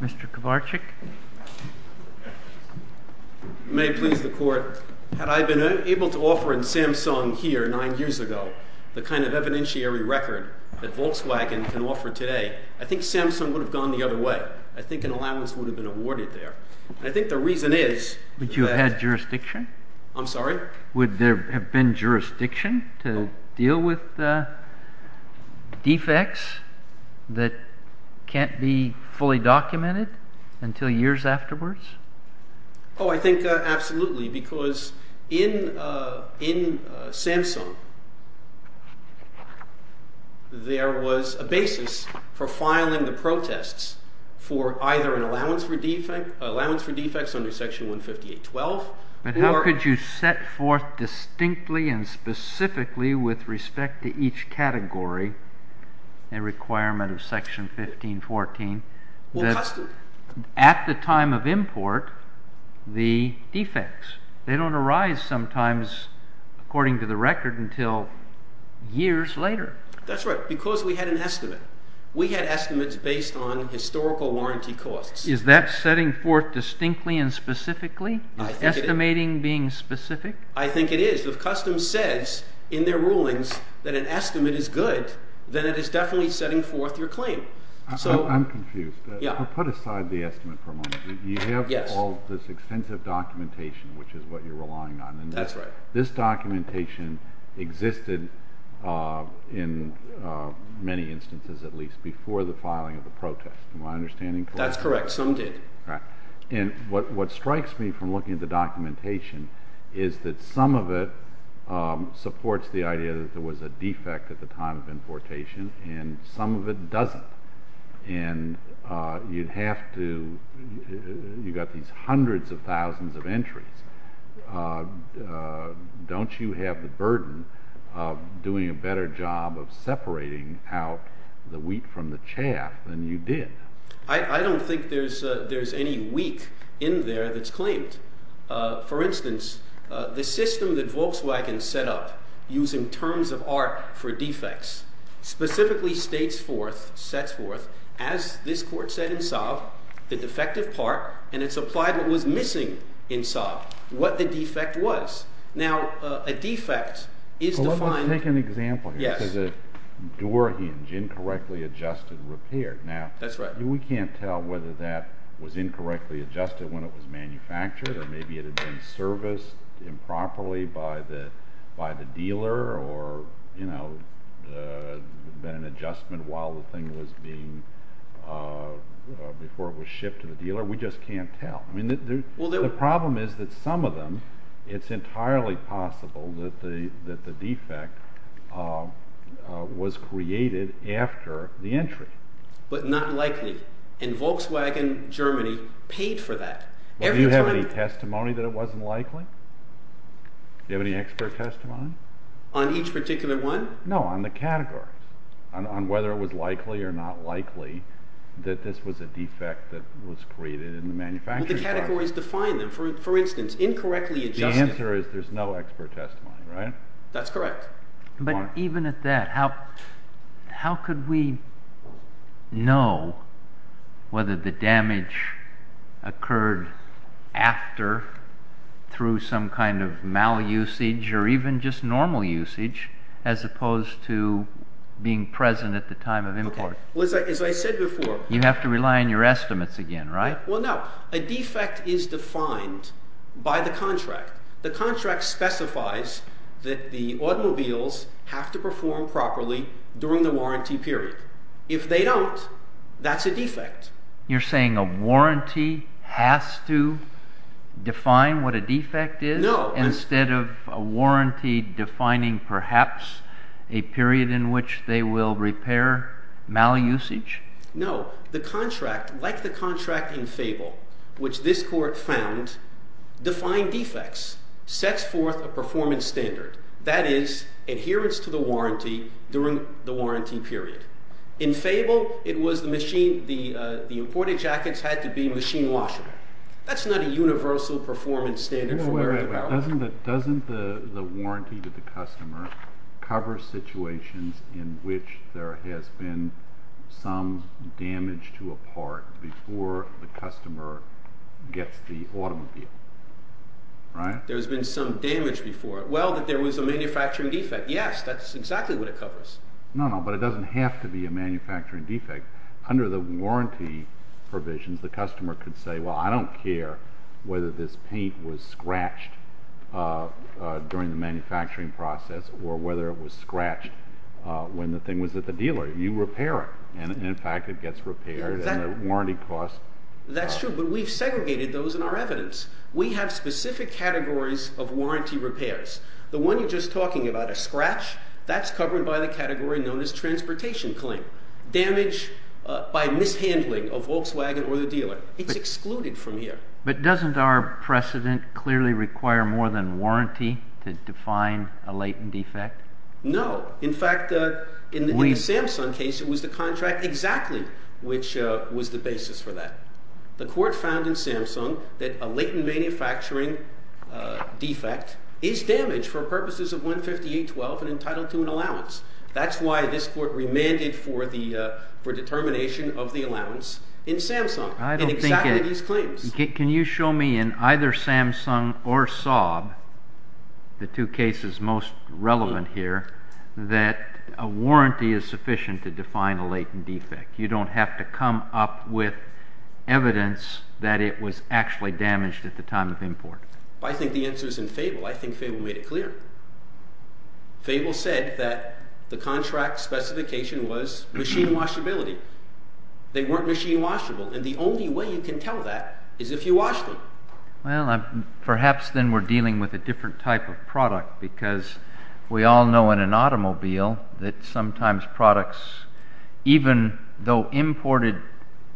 Mr. Kovarchik. May it please the Court. Had I been able to offer in Samsung here nine years ago the kind of evidentiary record that Volkswagen can offer today, I think Samsung would have gone the other way. I think an allowance would have been awarded there. I am sorry? Would there have been jurisdiction to deal with defects that can't be fully documented until years afterwards? Oh, I think absolutely, because in Samsung there was a basis for filing the protests for either an allowance for defects under section 158.12. But how could you set forth distinctly and specifically with respect to each category a requirement of section 15.14 that at the time of import the defects, they don't arise sometimes according to the historical warranty costs? Is that setting forth distinctly and specifically? Estimating being specific? I think it is. If customs says in their rulings that an estimate is good, then it is definitely setting forth your claim. I'm confused. Put aside the estimate for a moment. You have all this extensive documentation, which is what you're relying on. That's right. This documentation existed in many instances, at least, before the filing of the protest. Am I understanding correctly? That's correct. Some did. What strikes me from looking at the documentation is that some of it supports the idea that there was a defect at the time of importation and some of it doesn't. You have these hundreds of entries. Don't you have the burden of doing a better job of separating out the wheat from the chaff than you did? I don't think there's any wheat in there that's claimed. For instance, the system that Volkswagen set up using terms of art for defects specifically states forth, sets forth, as this Court said in Sov, the defective part, and it's applied what was inside, what the defect was. Let's take an example here. This is a door hinge, incorrectly adjusted and repaired. That's right. We can't tell whether that was incorrectly adjusted when it was manufactured or maybe it had been serviced improperly by the dealer or had been an adjustment while the thing was being shipped to the dealer. We just can't tell. The problem is that some of them, it's entirely possible that the defect was created after the entry. But not likely, and Volkswagen Germany paid for that. Do you have any testimony that it wasn't likely? Do you have any expert testimony? On each particular one? No, on the category, on whether it was likely or not likely that this was a defect that was created in the instance, incorrectly adjusted. The answer is there's no expert testimony, right? That's correct. But even at that, how could we know whether the damage occurred after through some kind of malusage or even just normal usage as opposed to being present at the time of import? As I said before. You have to rely on your estimates again, right? Well, no. A defect is defined by the contract. The contract specifies that the automobiles have to perform properly during the warranty period. If they don't, that's a defect. You're saying a warranty has to define what a defect is? No. Instead of a warranty defining perhaps a period in which they will repair malusage? No. The contract, like the contract in Fable, which this court found, defined defects, sets forth a performance standard. That is, adherence to the warranty during the warranty period. In Fable, it was the machine, the imported jackets had to be machine washable. That's not a universal performance standard. Doesn't the warranty to the customer cover situations in which there has been some damage to a part before the customer gets the automobile? There's been some damage before it. Well, that there was a manufacturing defect. Yes, that's exactly what it covers. No, no, but it doesn't have to be a manufacturing defect. Under the warranty provisions, the customer could say, well, I don't care whether this paint was scratched during the manufacturing process or whether it was scratched when the thing was at the dealer. You repair it, and in fact, it gets repaired and the warranty costs- That's true, but we've segregated those in our evidence. We have specific categories of warranty repairs. The one you're just talking about, a scratch, that's covered by the category known as transportation claim. Damage by mishandling of Volkswagen or the dealer. It's excluded from here. But doesn't our precedent clearly require more than warranty to define a latent defect? No. In fact, in the Samsung case, it was the contract exactly which was the basis for that. The court found in Samsung that a latent manufacturing defect is damaged for purposes of 158.12 and entitled to an allowance. That's why this court remanded for determination of the allowance in Samsung, in exactly these claims. Can you show me in either Samsung or Saab, the two cases most relevant here, that a warranty is sufficient to define a latent defect? You don't have to come up with evidence that it was actually damaged at the time of import. I think the answer is in Fable. I think Fable made it specification was machine washability. They weren't machine washable and the only way you can tell that is if you wash them. Well, perhaps then we're dealing with a different type of product because we all know in an automobile that sometimes products, even though imported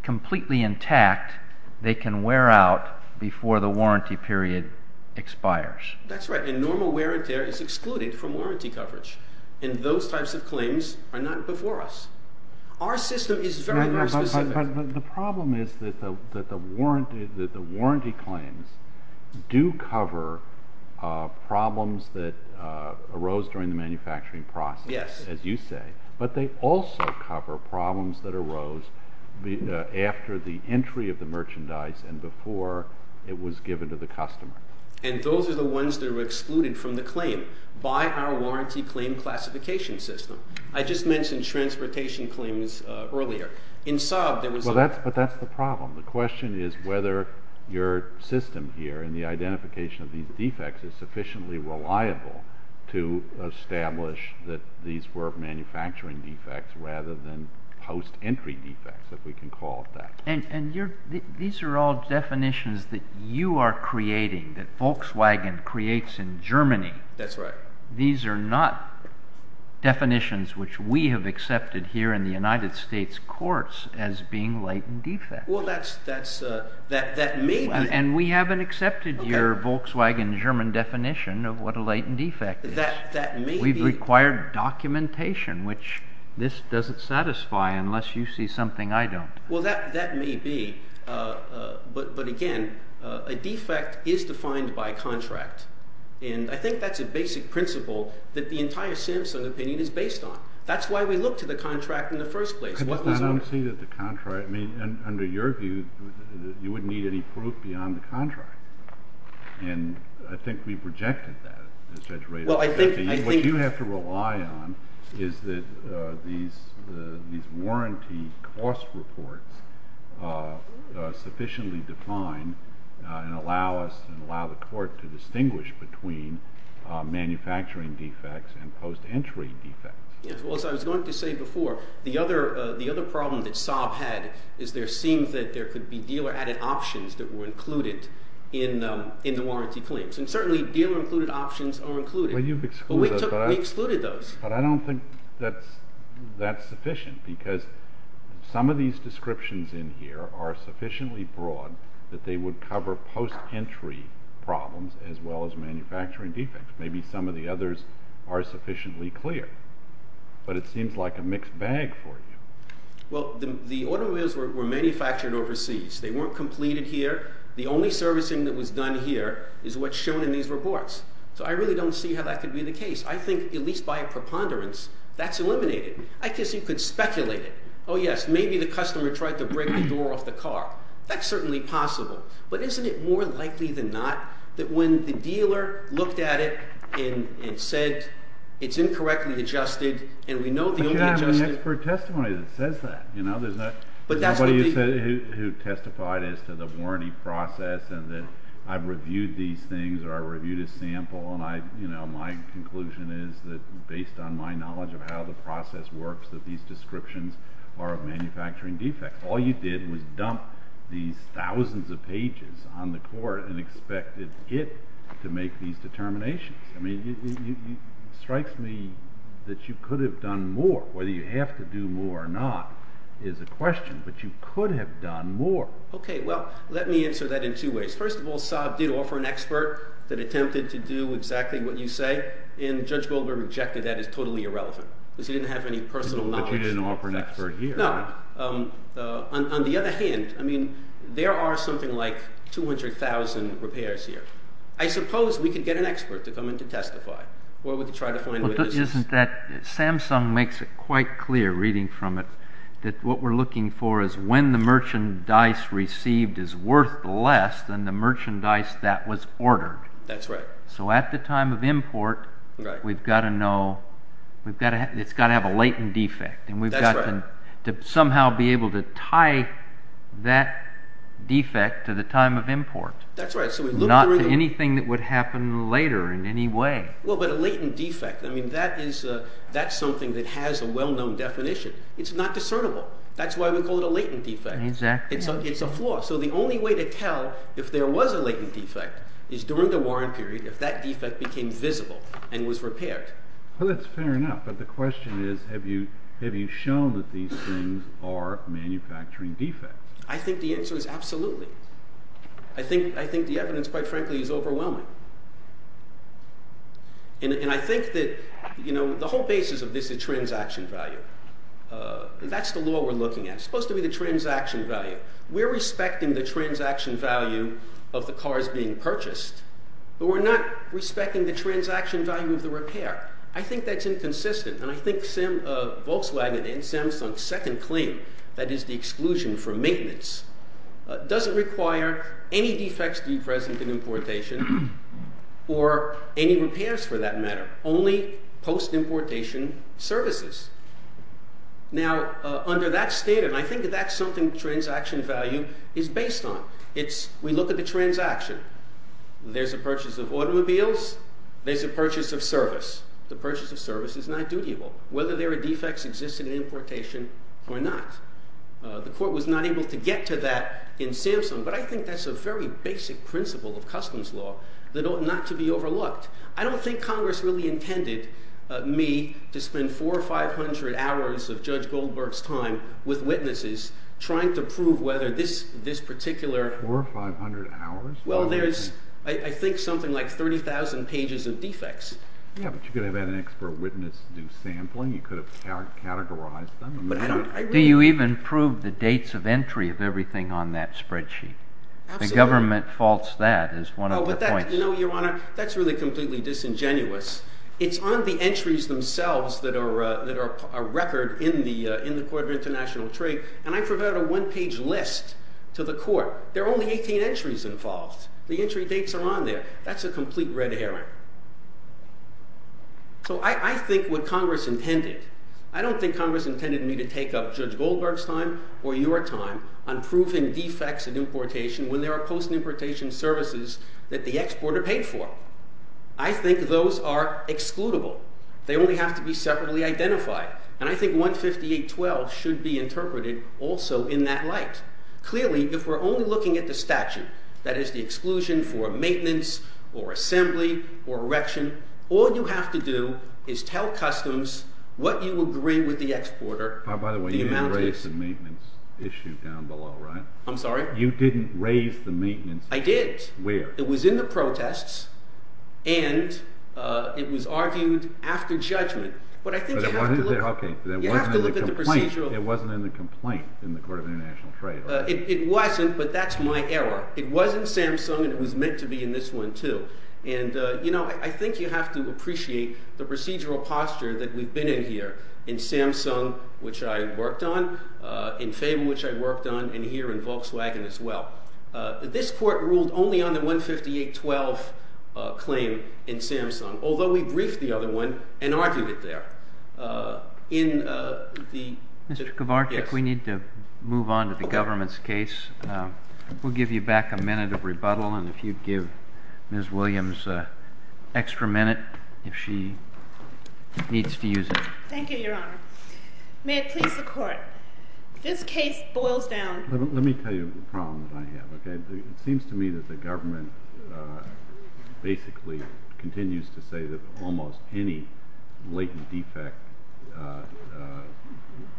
completely intact, they can wear out before the warranty period expires. That's right. Normal wear and tear is excluded from warranty coverage. Those types of claims are not before us. Our system is very specific. The problem is that the warranty claims do cover problems that arose during the manufacturing process, as you say, but they also cover problems that arose after the entry of the merchandise and before it was given to the customer. Those are the ones that are excluded from the claim by our warranty claim classification system. I just mentioned transportation claims earlier. In Saab, there was- Well, but that's the problem. The question is whether your system here and the identification of these defects is sufficiently reliable to establish that these were manufacturing defects rather than post-entry defects, if we can call it that. These are all definitions that you are creating, that Volkswagen creates in Germany. That's right. These are not definitions which we have accepted here in the United States courts as being latent defects. That may be. We haven't accepted your Volkswagen German definition of what a latent defect is. That may be. We've required documentation, which this doesn't unless you see something I don't. Well, that may be, but again, a defect is defined by contract, and I think that's a basic principle that the entire Simpson opinion is based on. That's why we look to the contract in the first place. But then I don't see that the contract- I mean, under your view, you wouldn't need any proof beyond the contract, and I think we've rejected that as Judge Rader said. What you have to rely on is that these warranty cost reports are sufficiently defined and allow us and allow the court to distinguish between manufacturing defects and post-entry defects. Well, as I was going to say before, the other problem that Saab had is there seems that there could be dealer-added options that were included in the warranty claims, and certainly dealer-included options are included, but we excluded those. But I don't think that's sufficient because some of these descriptions in here are sufficiently broad that they would cover post-entry problems as well as manufacturing defects. Maybe some of the others are sufficiently clear, but it seems like a mixed bag for you. Well, the automobiles were manufactured overseas. They weren't completed here. The only servicing that was done here is what's shown in these reports, so I really don't see how that could be the case. I think, at least by a preponderance, that's eliminated. I guess you could speculate it. Oh yes, maybe the customer tried to break the door off the car. That's certainly possible, but isn't it more likely than not that when the dealer looked at it and it said it's incorrectly adjusted, and we know the only adjusted... We should have an expert testimony that says that. You know, there's nobody who testified as to the warranty process, and that I've reviewed these things, or I reviewed a sample, and I, you know, my conclusion is that based on my knowledge of how the process works, that these descriptions are of manufacturing defects. All you did was dump these thousands of pages on the court and expect it to make these determinations. I mean, it strikes me that you could have done more. Whether you have to do more or not is a question, but you could have done more. Okay, well, let me answer that in two ways. First of all, Saab did offer an expert that attempted to do exactly what you say, and Judge Goldberg rejected that as totally irrelevant, because he didn't have any personal knowledge. But you didn't offer an expert here. No. On the other hand, I mean, there are something like 200,000 repairs here. I suppose we could get an expert to come in to testify, or we could try to find... Isn't that... Samsung makes it quite clear, reading from it, that what we're looking for is when the merchandise received is worth less than the merchandise that was ordered. That's right. So at the time of import, we've got to know... We've got to... It's got to have a latent defect, and we've got to somehow be able to tie that defect to the time of import. That's right. So we look... Not to anything that would happen later in any way. Well, but a latent defect, I mean, that is... That's something that has a well-known definition. It's not discernible. That's why we call it a latent defect. Exactly. It's a flaw. So the only way to tell if there was a latent defect is during the warrant period, if that defect became visible and was repaired. Well, that's fair enough, but the question is, have you shown that these things are manufacturing defects? I think the answer is absolutely. I think the evidence, quite frankly, is overwhelming. And I think that, you know, the whole basis of this is transaction value. That's the law we're looking at. It's supposed to be the transaction value. We're respecting the transaction value of the repair. I think that's inconsistent, and I think Volkswagen and Samsung's second claim, that is the exclusion from maintenance, doesn't require any defects to be present in importation, or any repairs for that matter. Only post-importation services. Now, under that statement, I think that's something transaction value is based on. It's... Look at the transaction. There's a purchase of automobiles. There's a purchase of service. The purchase of service is not dutiable, whether there are defects existing in importation or not. The court was not able to get to that in Samsung, but I think that's a very basic principle of customs law that ought not to be overlooked. I don't think Congress really intended me to spend four or five hundred hours of Judge Goldberg's time with witnesses trying to prove whether this particular... Four or five hundred hours? Well, there's, I think, something like 30,000 pages of defects. Yeah, but you could have had an expert witness do sampling. You could have categorized them. Do you even prove the dates of entry of everything on that spreadsheet? The government faults that as one of the points. No, Your Honor, that's really completely disingenuous. It's on the entries themselves that are a record in the Court of International Trade, and I provide a one-page list to the Court. There are only 18 entries involved. The entry dates are on there. That's a complete red herring. So I think what Congress intended... I don't think Congress intended me to take up Judge Goldberg's time or your time on proving defects in importation when there are post-importation services that the exporter paid for. I think those are excludable. They only have to be separately identified, and I think 158.12 should be interpreted also in that light. Clearly, if we're only looking at the statute, that is the exclusion for maintenance or assembly or erection, all you have to do is tell customs what you agree with the exporter. By the way, you didn't raise the maintenance issue down below, right? I'm sorry? You didn't raise the maintenance issue. I did. Where? It was in the It wasn't in the complaint in the Court of International Trade. It wasn't, but that's my error. It was in Samsung, and it was meant to be in this one too. And, you know, I think you have to appreciate the procedural posture that we've been in here in Samsung, which I worked on, in Faber, which I worked on, and here in Volkswagen as well. This Court ruled only on the 158.12 claim in Samsung, although we briefed the other one and argued it there. Mr. Kovarcik, we need to move on to the government's case. We'll give you back a minute of rebuttal, and if you'd give Ms. Williams an extra minute if she needs to use it. Thank you, Your Honor. May it please the Court. This case boils down... Let me tell you the problem that I basically continues to say that almost any latent defect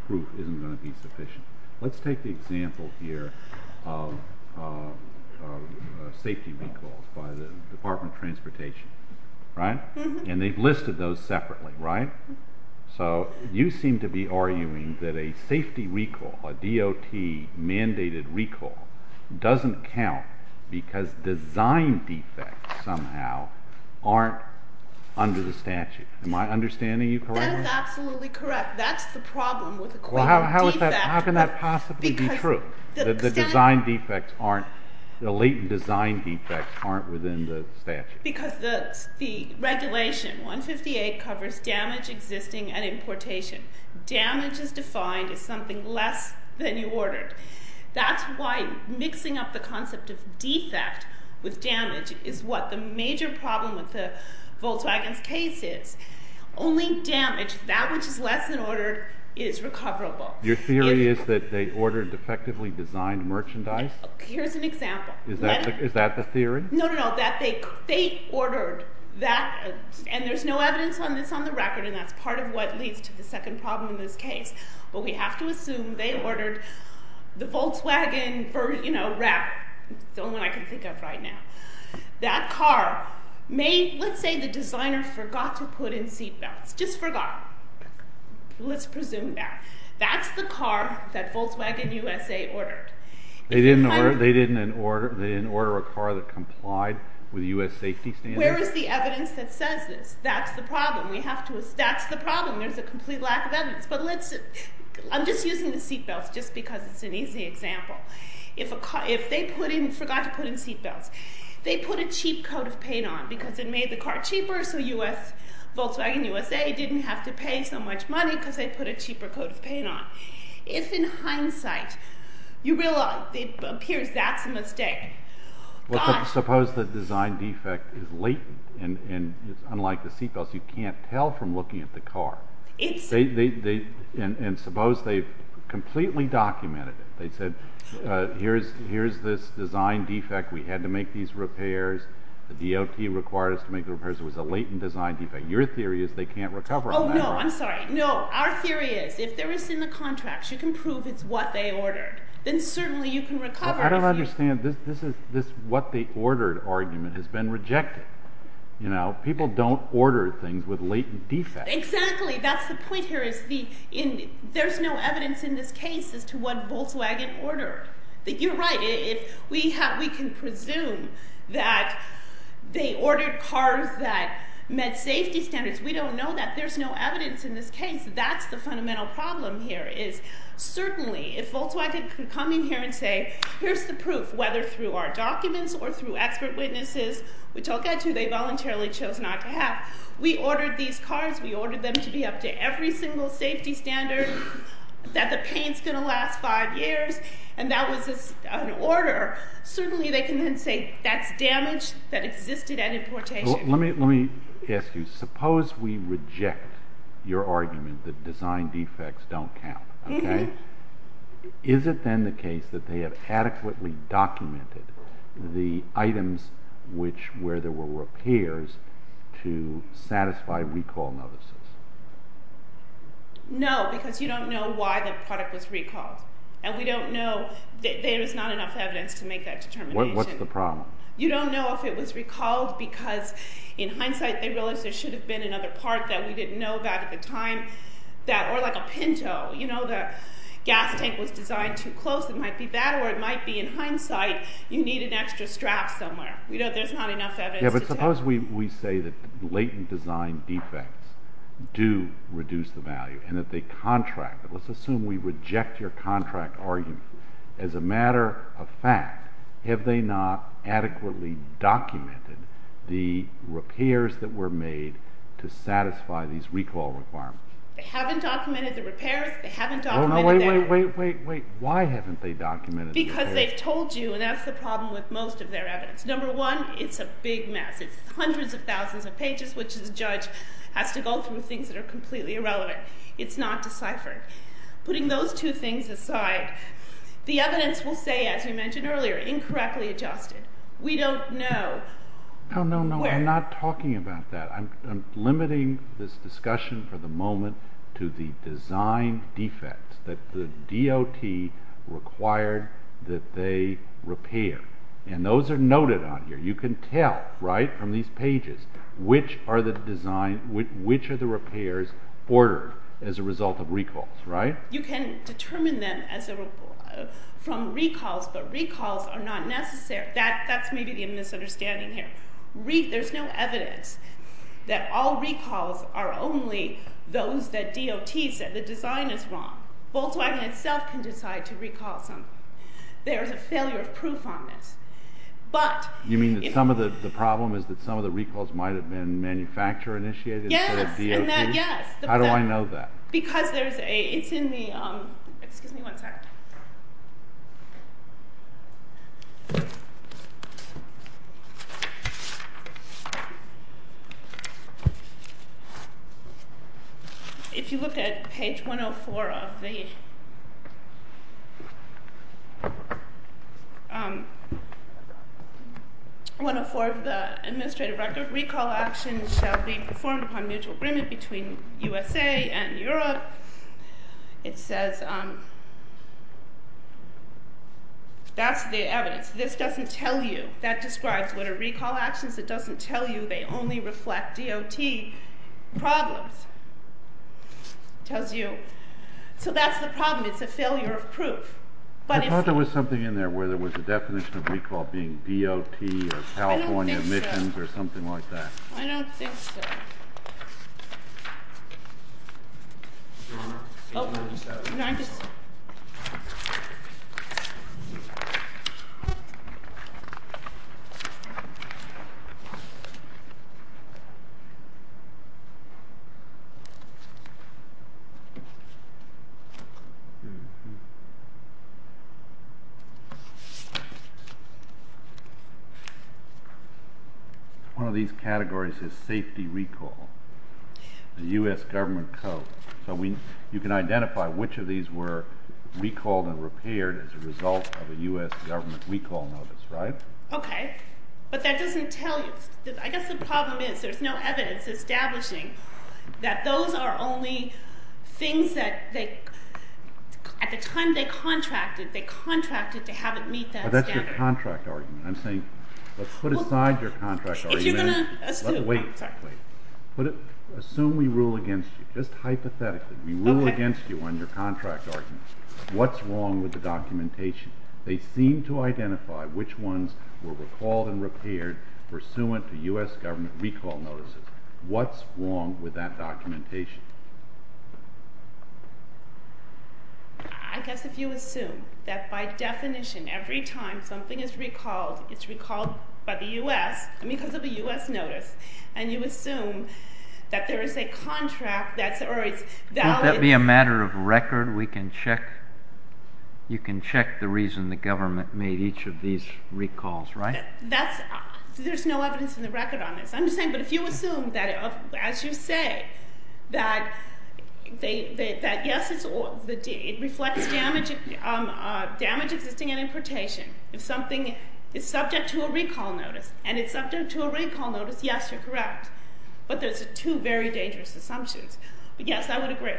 proof isn't going to be sufficient. Let's take the example here of safety recalls by the Department of Transportation, right? And they've listed those separately, right? So you seem to be arguing that a safety recall, a DOT-mandated recall, doesn't count because design defects somehow aren't under the statute. Am I understanding you correctly? That is absolutely correct. That's the problem with... Well, how can that possibly be true, that the design defects aren't... the latent design defects aren't within the statute? Because the regulation, 158, covers damage existing at importation. Damage is defined as something less than you ordered. That's why mixing up the concept of defect with damage is what the major problem with the Volkswagen's case is. Only damage, that which is less than ordered, is recoverable. Your theory is that they ordered defectively designed merchandise? Here's an example. Is that the theory? No, no, no. That they ordered that, and there's no evidence on this on the record, and that's part of what leads to the wrap. It's the only one I can think of right now. That car may... let's say the designer forgot to put in seat belts. Just forgot. Let's presume that. That's the car that Volkswagen USA ordered. They didn't order a car that complied with U.S. safety standards? Where is the evidence that says this? That's the problem. We have to... that's the problem. There's a complete lack of evidence. But let's... I'm just using the seat belts just because it's an easy example. If a car... if they put in... forgot to put in seat belts, they put a cheap coat of paint on because it made the car cheaper, so U.S. Volkswagen USA didn't have to pay so much money because they put a cheaper coat of paint on. If in hindsight you realize it appears that's a mistake... Well, suppose the design defect is latent, and it's unlike the seat belts. You can't tell from looking at the car. It's... And suppose they've completely documented it. They said, here's this design defect. We had to make these repairs. The DOT required us to make the repairs. It was a latent design defect. Your theory is they can't recover. Oh no, I'm sorry. No, our theory is if there is in the contracts, you can prove it's what they ordered. Then certainly you can recover. I don't understand. This is... this what they ordered argument has been rejected. You know, people don't order things with latent defects. Exactly. That's the point here is the... in... there's no evidence in this case as to what Volkswagen ordered. You're right. If we have... we can presume that they ordered cars that met safety standards. We don't know that. There's no evidence in this case. That's the fundamental problem here is certainly if Volkswagen could come in here and say, here's the proof, whether through our documents or through expert witnesses, which I'll get to. They voluntarily chose not to have. We ordered these cars. We ordered them to be up to every single safety standard that the paint's going to last five years. And that was an order. Certainly they can then say that's damage that existed at importation. Let me... let me ask you. Suppose we reject your argument that design defects don't count. Okay. Is it then the case that they have adequately documented the items which... where there were repairs to satisfy recall notices? No, because you don't know why the product was recalled. And we don't know... there is not enough evidence to make that determination. What's the problem? You don't know if it was recalled because in hindsight they realized there should have been another part that we didn't know about at the time that... or like a Pinto. You know, the gas tank was designed too close. It might be that or it might be in hindsight you need an extra strap somewhere. We know there's not enough evidence. Yeah, but suppose we say that latent design defects do reduce the value and that they contract. But let's assume we reject your contract argument. As a matter of fact, have they not adequately documented the repairs that were made to satisfy these recall requirements? They haven't documented the repairs. They haven't documented... Because they've told you and that's the problem with most of their evidence. Number one, it's a big mess. It's hundreds of thousands of pages, which the judge has to go through things that are completely irrelevant. It's not deciphered. Putting those two things aside, the evidence will say, as you mentioned earlier, incorrectly adjusted. We don't know. No, no, no. I'm not talking about that. I'm limiting this discussion for the moment to the design defect that the DOT required that they repair. And those are noted on here. You can tell, right, from these pages which are the design, which are the repairs ordered as a result of recalls, right? You can determine them as a from recalls, but recalls are not necessary. That's maybe the misunderstanding here. There's no evidence that all recalls are only those that DOT said the Volkswagen itself can decide to recall something. There's a failure of proof on this, but... You mean that some of the problem is that some of the recalls might have been manufacturer-initiated? Yes, and that, yes. How do I know that? Because there's a, it's in the, excuse me one second. If you look at page 104 of the, 104 of the administrative record, recall actions shall be performed upon mutual agreement between the manufacturer and the company. That's the evidence. This doesn't tell you. That describes what are recall actions. It doesn't tell you. They only reflect DOT problems. Tells you. So that's the problem. It's a failure of proof. I thought there was something in there where there was a definition of recall being DOT or California emissions or something like that. I don't think so. The U.S. government code. So we, you can identify which of these were recalled and repaired as a result of a U.S. government recall notice, right? Okay, but that doesn't tell you. I guess the problem is there's no evidence establishing that those are only things that they, at the time they contracted, they contracted to have it meet that standard. I'm saying, let's put aside your contract argument. If you're going to, let's do it. Wait, wait. Assume we rule against you. Just hypothetically, we rule against you on your contract argument. What's wrong with the documentation? They seem to identify which ones were recalled and repaired pursuant to U.S. government recall notices. What's wrong with that documentation? I guess if you assume that by definition, every time something is recalled, it's recalled by the U.S. because of a U.S. notice, and you assume that there is a contract that's, or it's valid. Wouldn't that be a matter of record? We can check. You can check the reason the government made each of these recalls, right? There's no evidence in the record on this. I'm just saying, but if you assume that, as you say, that yes, it reflects damage existing in importation, if something is subject to a recall notice, and it's subject to a recall notice, yes, you're correct. But there's two very dangerous assumptions. Yes, I would agree.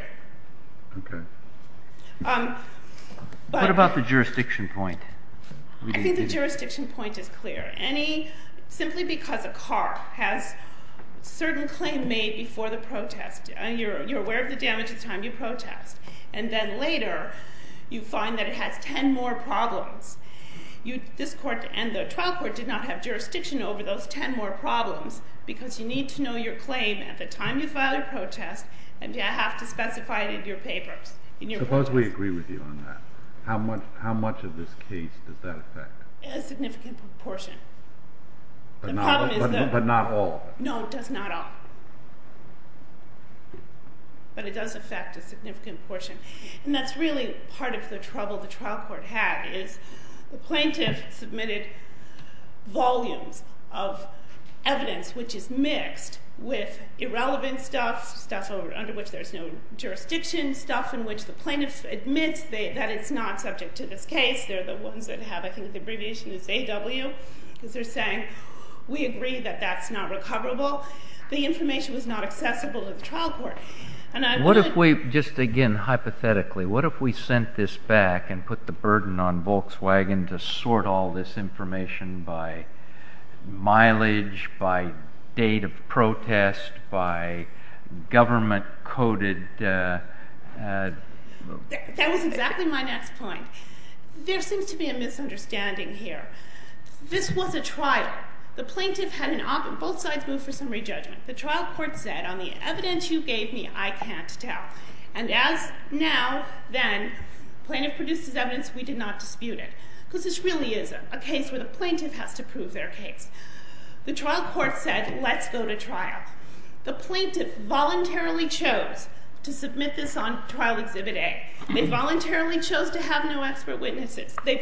Okay. What about the jurisdiction point? I think the jurisdiction point is clear. Simply because a car has a certain claim made before the protest, you're aware of the damage at the time you protest, and then later, you find that it has 10 more problems. This court and the trial court did not have jurisdiction over those 10 more problems, because you need to know your claim at the time you file your protest, and you have to specify it in your papers. Suppose we agree with you on that. How much of this case does that affect? A significant proportion. But not all? No, it does not all. But it does affect a significant portion. And that's really part of the trouble the trial court had, is the plaintiff submitted volumes of evidence which is mixed with irrelevant stuff, stuff under which there's no jurisdiction, stuff in which the plaintiff admits that it's not subject to this case. They're the ones that have, I think the abbreviation is AW, because they're saying, we agree that that's not recoverable. The information was not accessible to the trial court. What if we, just again, hypothetically, what if we sent this back and put the burden on Volkswagen to sort all this information by mileage, by date of protest, by government-coded... That was exactly my next point. There seems to be a misunderstanding here. This was a trial. The plaintiff had an op... Both sides moved for summary judgment. The trial court said, on the evidence you gave me, I can't tell. And as now, then, plaintiff produces evidence, we did not dispute it. Because this really is a case where the plaintiff has to prove their case. The trial court said, let's go to trial. The plaintiff voluntarily chose to submit this on trial exhibit A. They voluntarily chose to have no expert witnesses. So they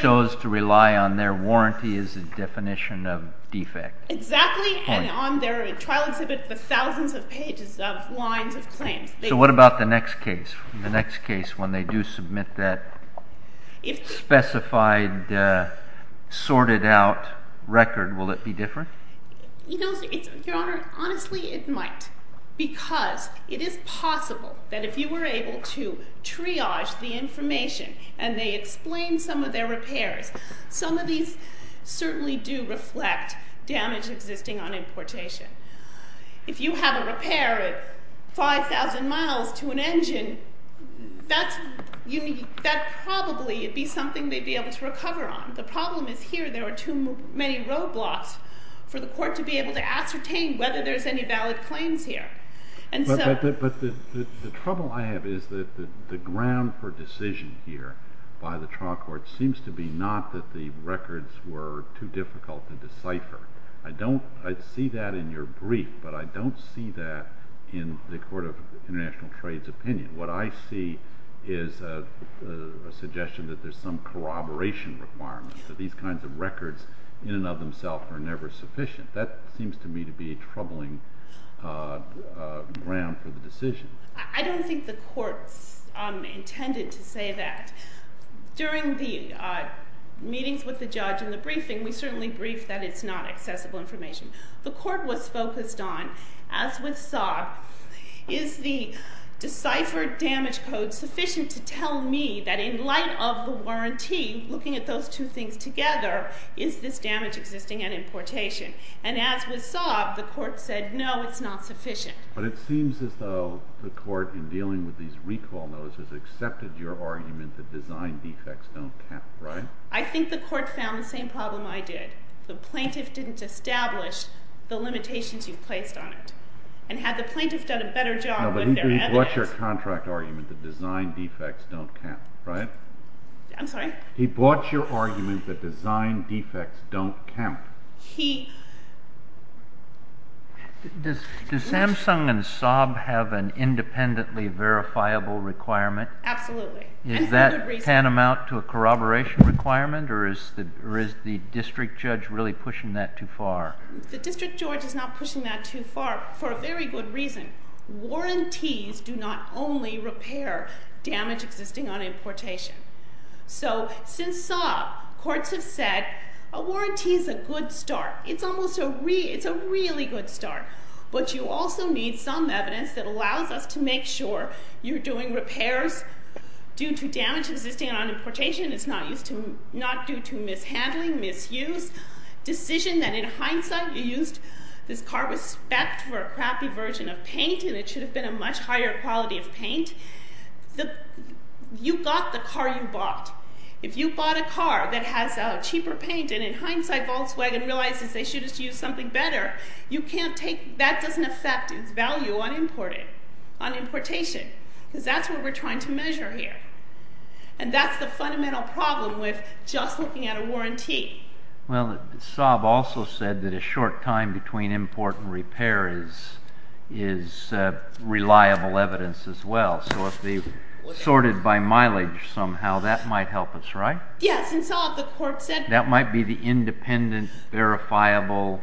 chose to rely on their warranty as a definition of defect. Exactly. And on their trial exhibit, the thousands of pages of lines of claims. So what about the next case? The next case, when they do submit that specified, sorted out record, will it be different? Your Honor, honestly, it might. Because it is possible that if you were able to triage the information and they explain some of their repairs, some of these certainly do reflect damage existing on importation. If you have a repair at 5,000 miles to an engine, that probably would be something they'd be able to recover on. The problem is here, there are too many roadblocks for the court to be able to ascertain whether there's any valid claims here. But the trouble I have is that the ground for decision here by the trial court seems to be not that the records were too difficult to decipher. I see that in your brief, but I don't see that in the Court of International Trade's opinion. What I see is a suggestion that there's some corroboration requirement, that these kinds of records in and of themselves are never sufficient. That seems to me to be a troubling ground for the decision. I don't think the Court intended to say that. During the meetings with the judge and the briefing, we certainly briefed that it's not accessible information. The court was focused on, as with Saab, is the deciphered damage code sufficient to tell me that in light of the warranty, looking at those two things together, is this damage existing on importation? And as with Saab, the court said, no, it's not sufficient. But it seems as though the court, in dealing with these recall notices, accepted your argument that design defects don't count, right? I think the court found the same problem I did. The plaintiff didn't establish the limitations you placed on it. And had the plaintiff done a better job with their evidence? No, but he brought your contract argument that design defects don't count, right? I'm sorry? He brought your argument that design defects don't count. He… Does Samsung and Saab have an independently verifiable requirement? Absolutely. Is that tantamount to a corroboration requirement? Or is the district judge really pushing that too far? The district judge is not pushing that too far for a very good reason. Warranties do not only repair damage existing on importation. So since Saab, courts have said, a warranty is a good start. It's a really good start. But you also need some evidence that allows us to make sure you're doing repairs due to damage existing on importation. It's not due to mishandling, misuse. Decision that, in hindsight, you used this car with respect for a crappy version of paint, and it should have been a much higher quality of paint. You got the car you bought. If you bought a car that has a cheaper paint, and in hindsight, Volkswagen realizes they should have used something better, you can't take…that doesn't affect its value on importation. Because that's what we're trying to measure here. And that's the fundamental problem with just looking at a warranty. Well, Saab also said that a short time between import and repair is reliable evidence as well. So if they sorted by mileage somehow, that might help us, right? Yes. And Saab, the court said… That might be the independent, verifiable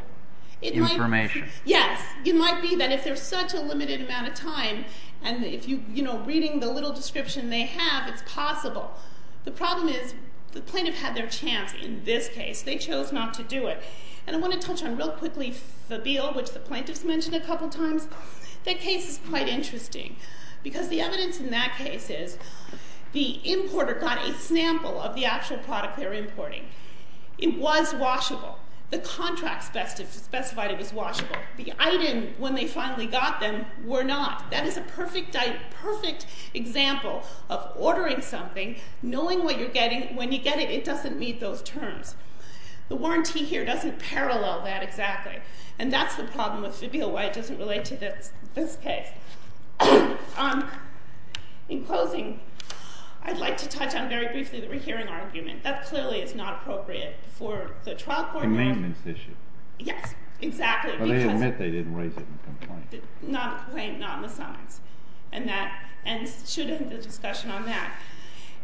information. Yes. It might be that if there's such a limited amount of time, and if you're reading the little description they have, it's possible. The problem is the plaintiff had their chance in this case. They chose not to do it. And I want to touch on real quickly Fabile, which the plaintiffs mentioned a couple times. That case is quite interesting. Because the evidence in that case is the importer got a sample of the actual product they were importing. It was washable. The contract specified it was washable. The item, when they finally got them, were not. That is a perfect example of ordering something, knowing what you're getting, when you get it, it doesn't meet those terms. The warranty here doesn't parallel that exactly. And that's the problem with Fabile, why it doesn't relate to this case. In closing, I'd like to touch on very briefly the rehearing argument. That clearly is not appropriate for the trial court… A maintenance issue. Yes, exactly. But they admit they didn't raise it in the complaint. Not in the complaint, not in the summons. And that should end the discussion on that.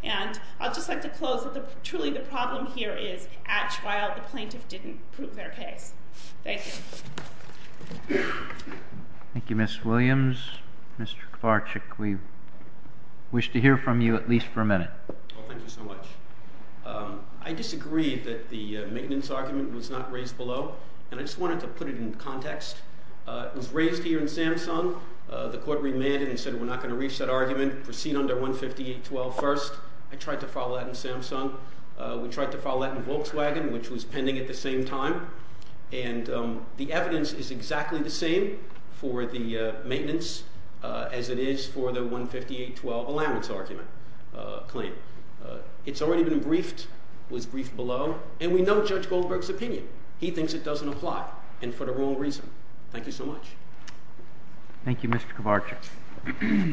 And I'd just like to close that truly the problem here is at trial the plaintiff didn't prove their case. Thank you. Thank you, Ms. Williams. Mr. Kvarchuk, we wish to hear from you at least for a minute. Well, thank you so much. I disagree that the maintenance argument was not raised below. And I just wanted to put it in context. It was raised here in Samsung. The court remanded and said we're not going to reach that argument. Proceed under 158.12 first. I tried to follow that in Samsung. We tried to follow that in Volkswagen, which was pending at the same time. And the evidence is exactly the same for the maintenance as it is for the 158.12 allowance argument claim. It's already been briefed, was briefed below. And we know Judge Goldberg's opinion. He thinks it doesn't apply and for the wrong reason. Thank you so much. Thank you, Mr. Kvarchuk.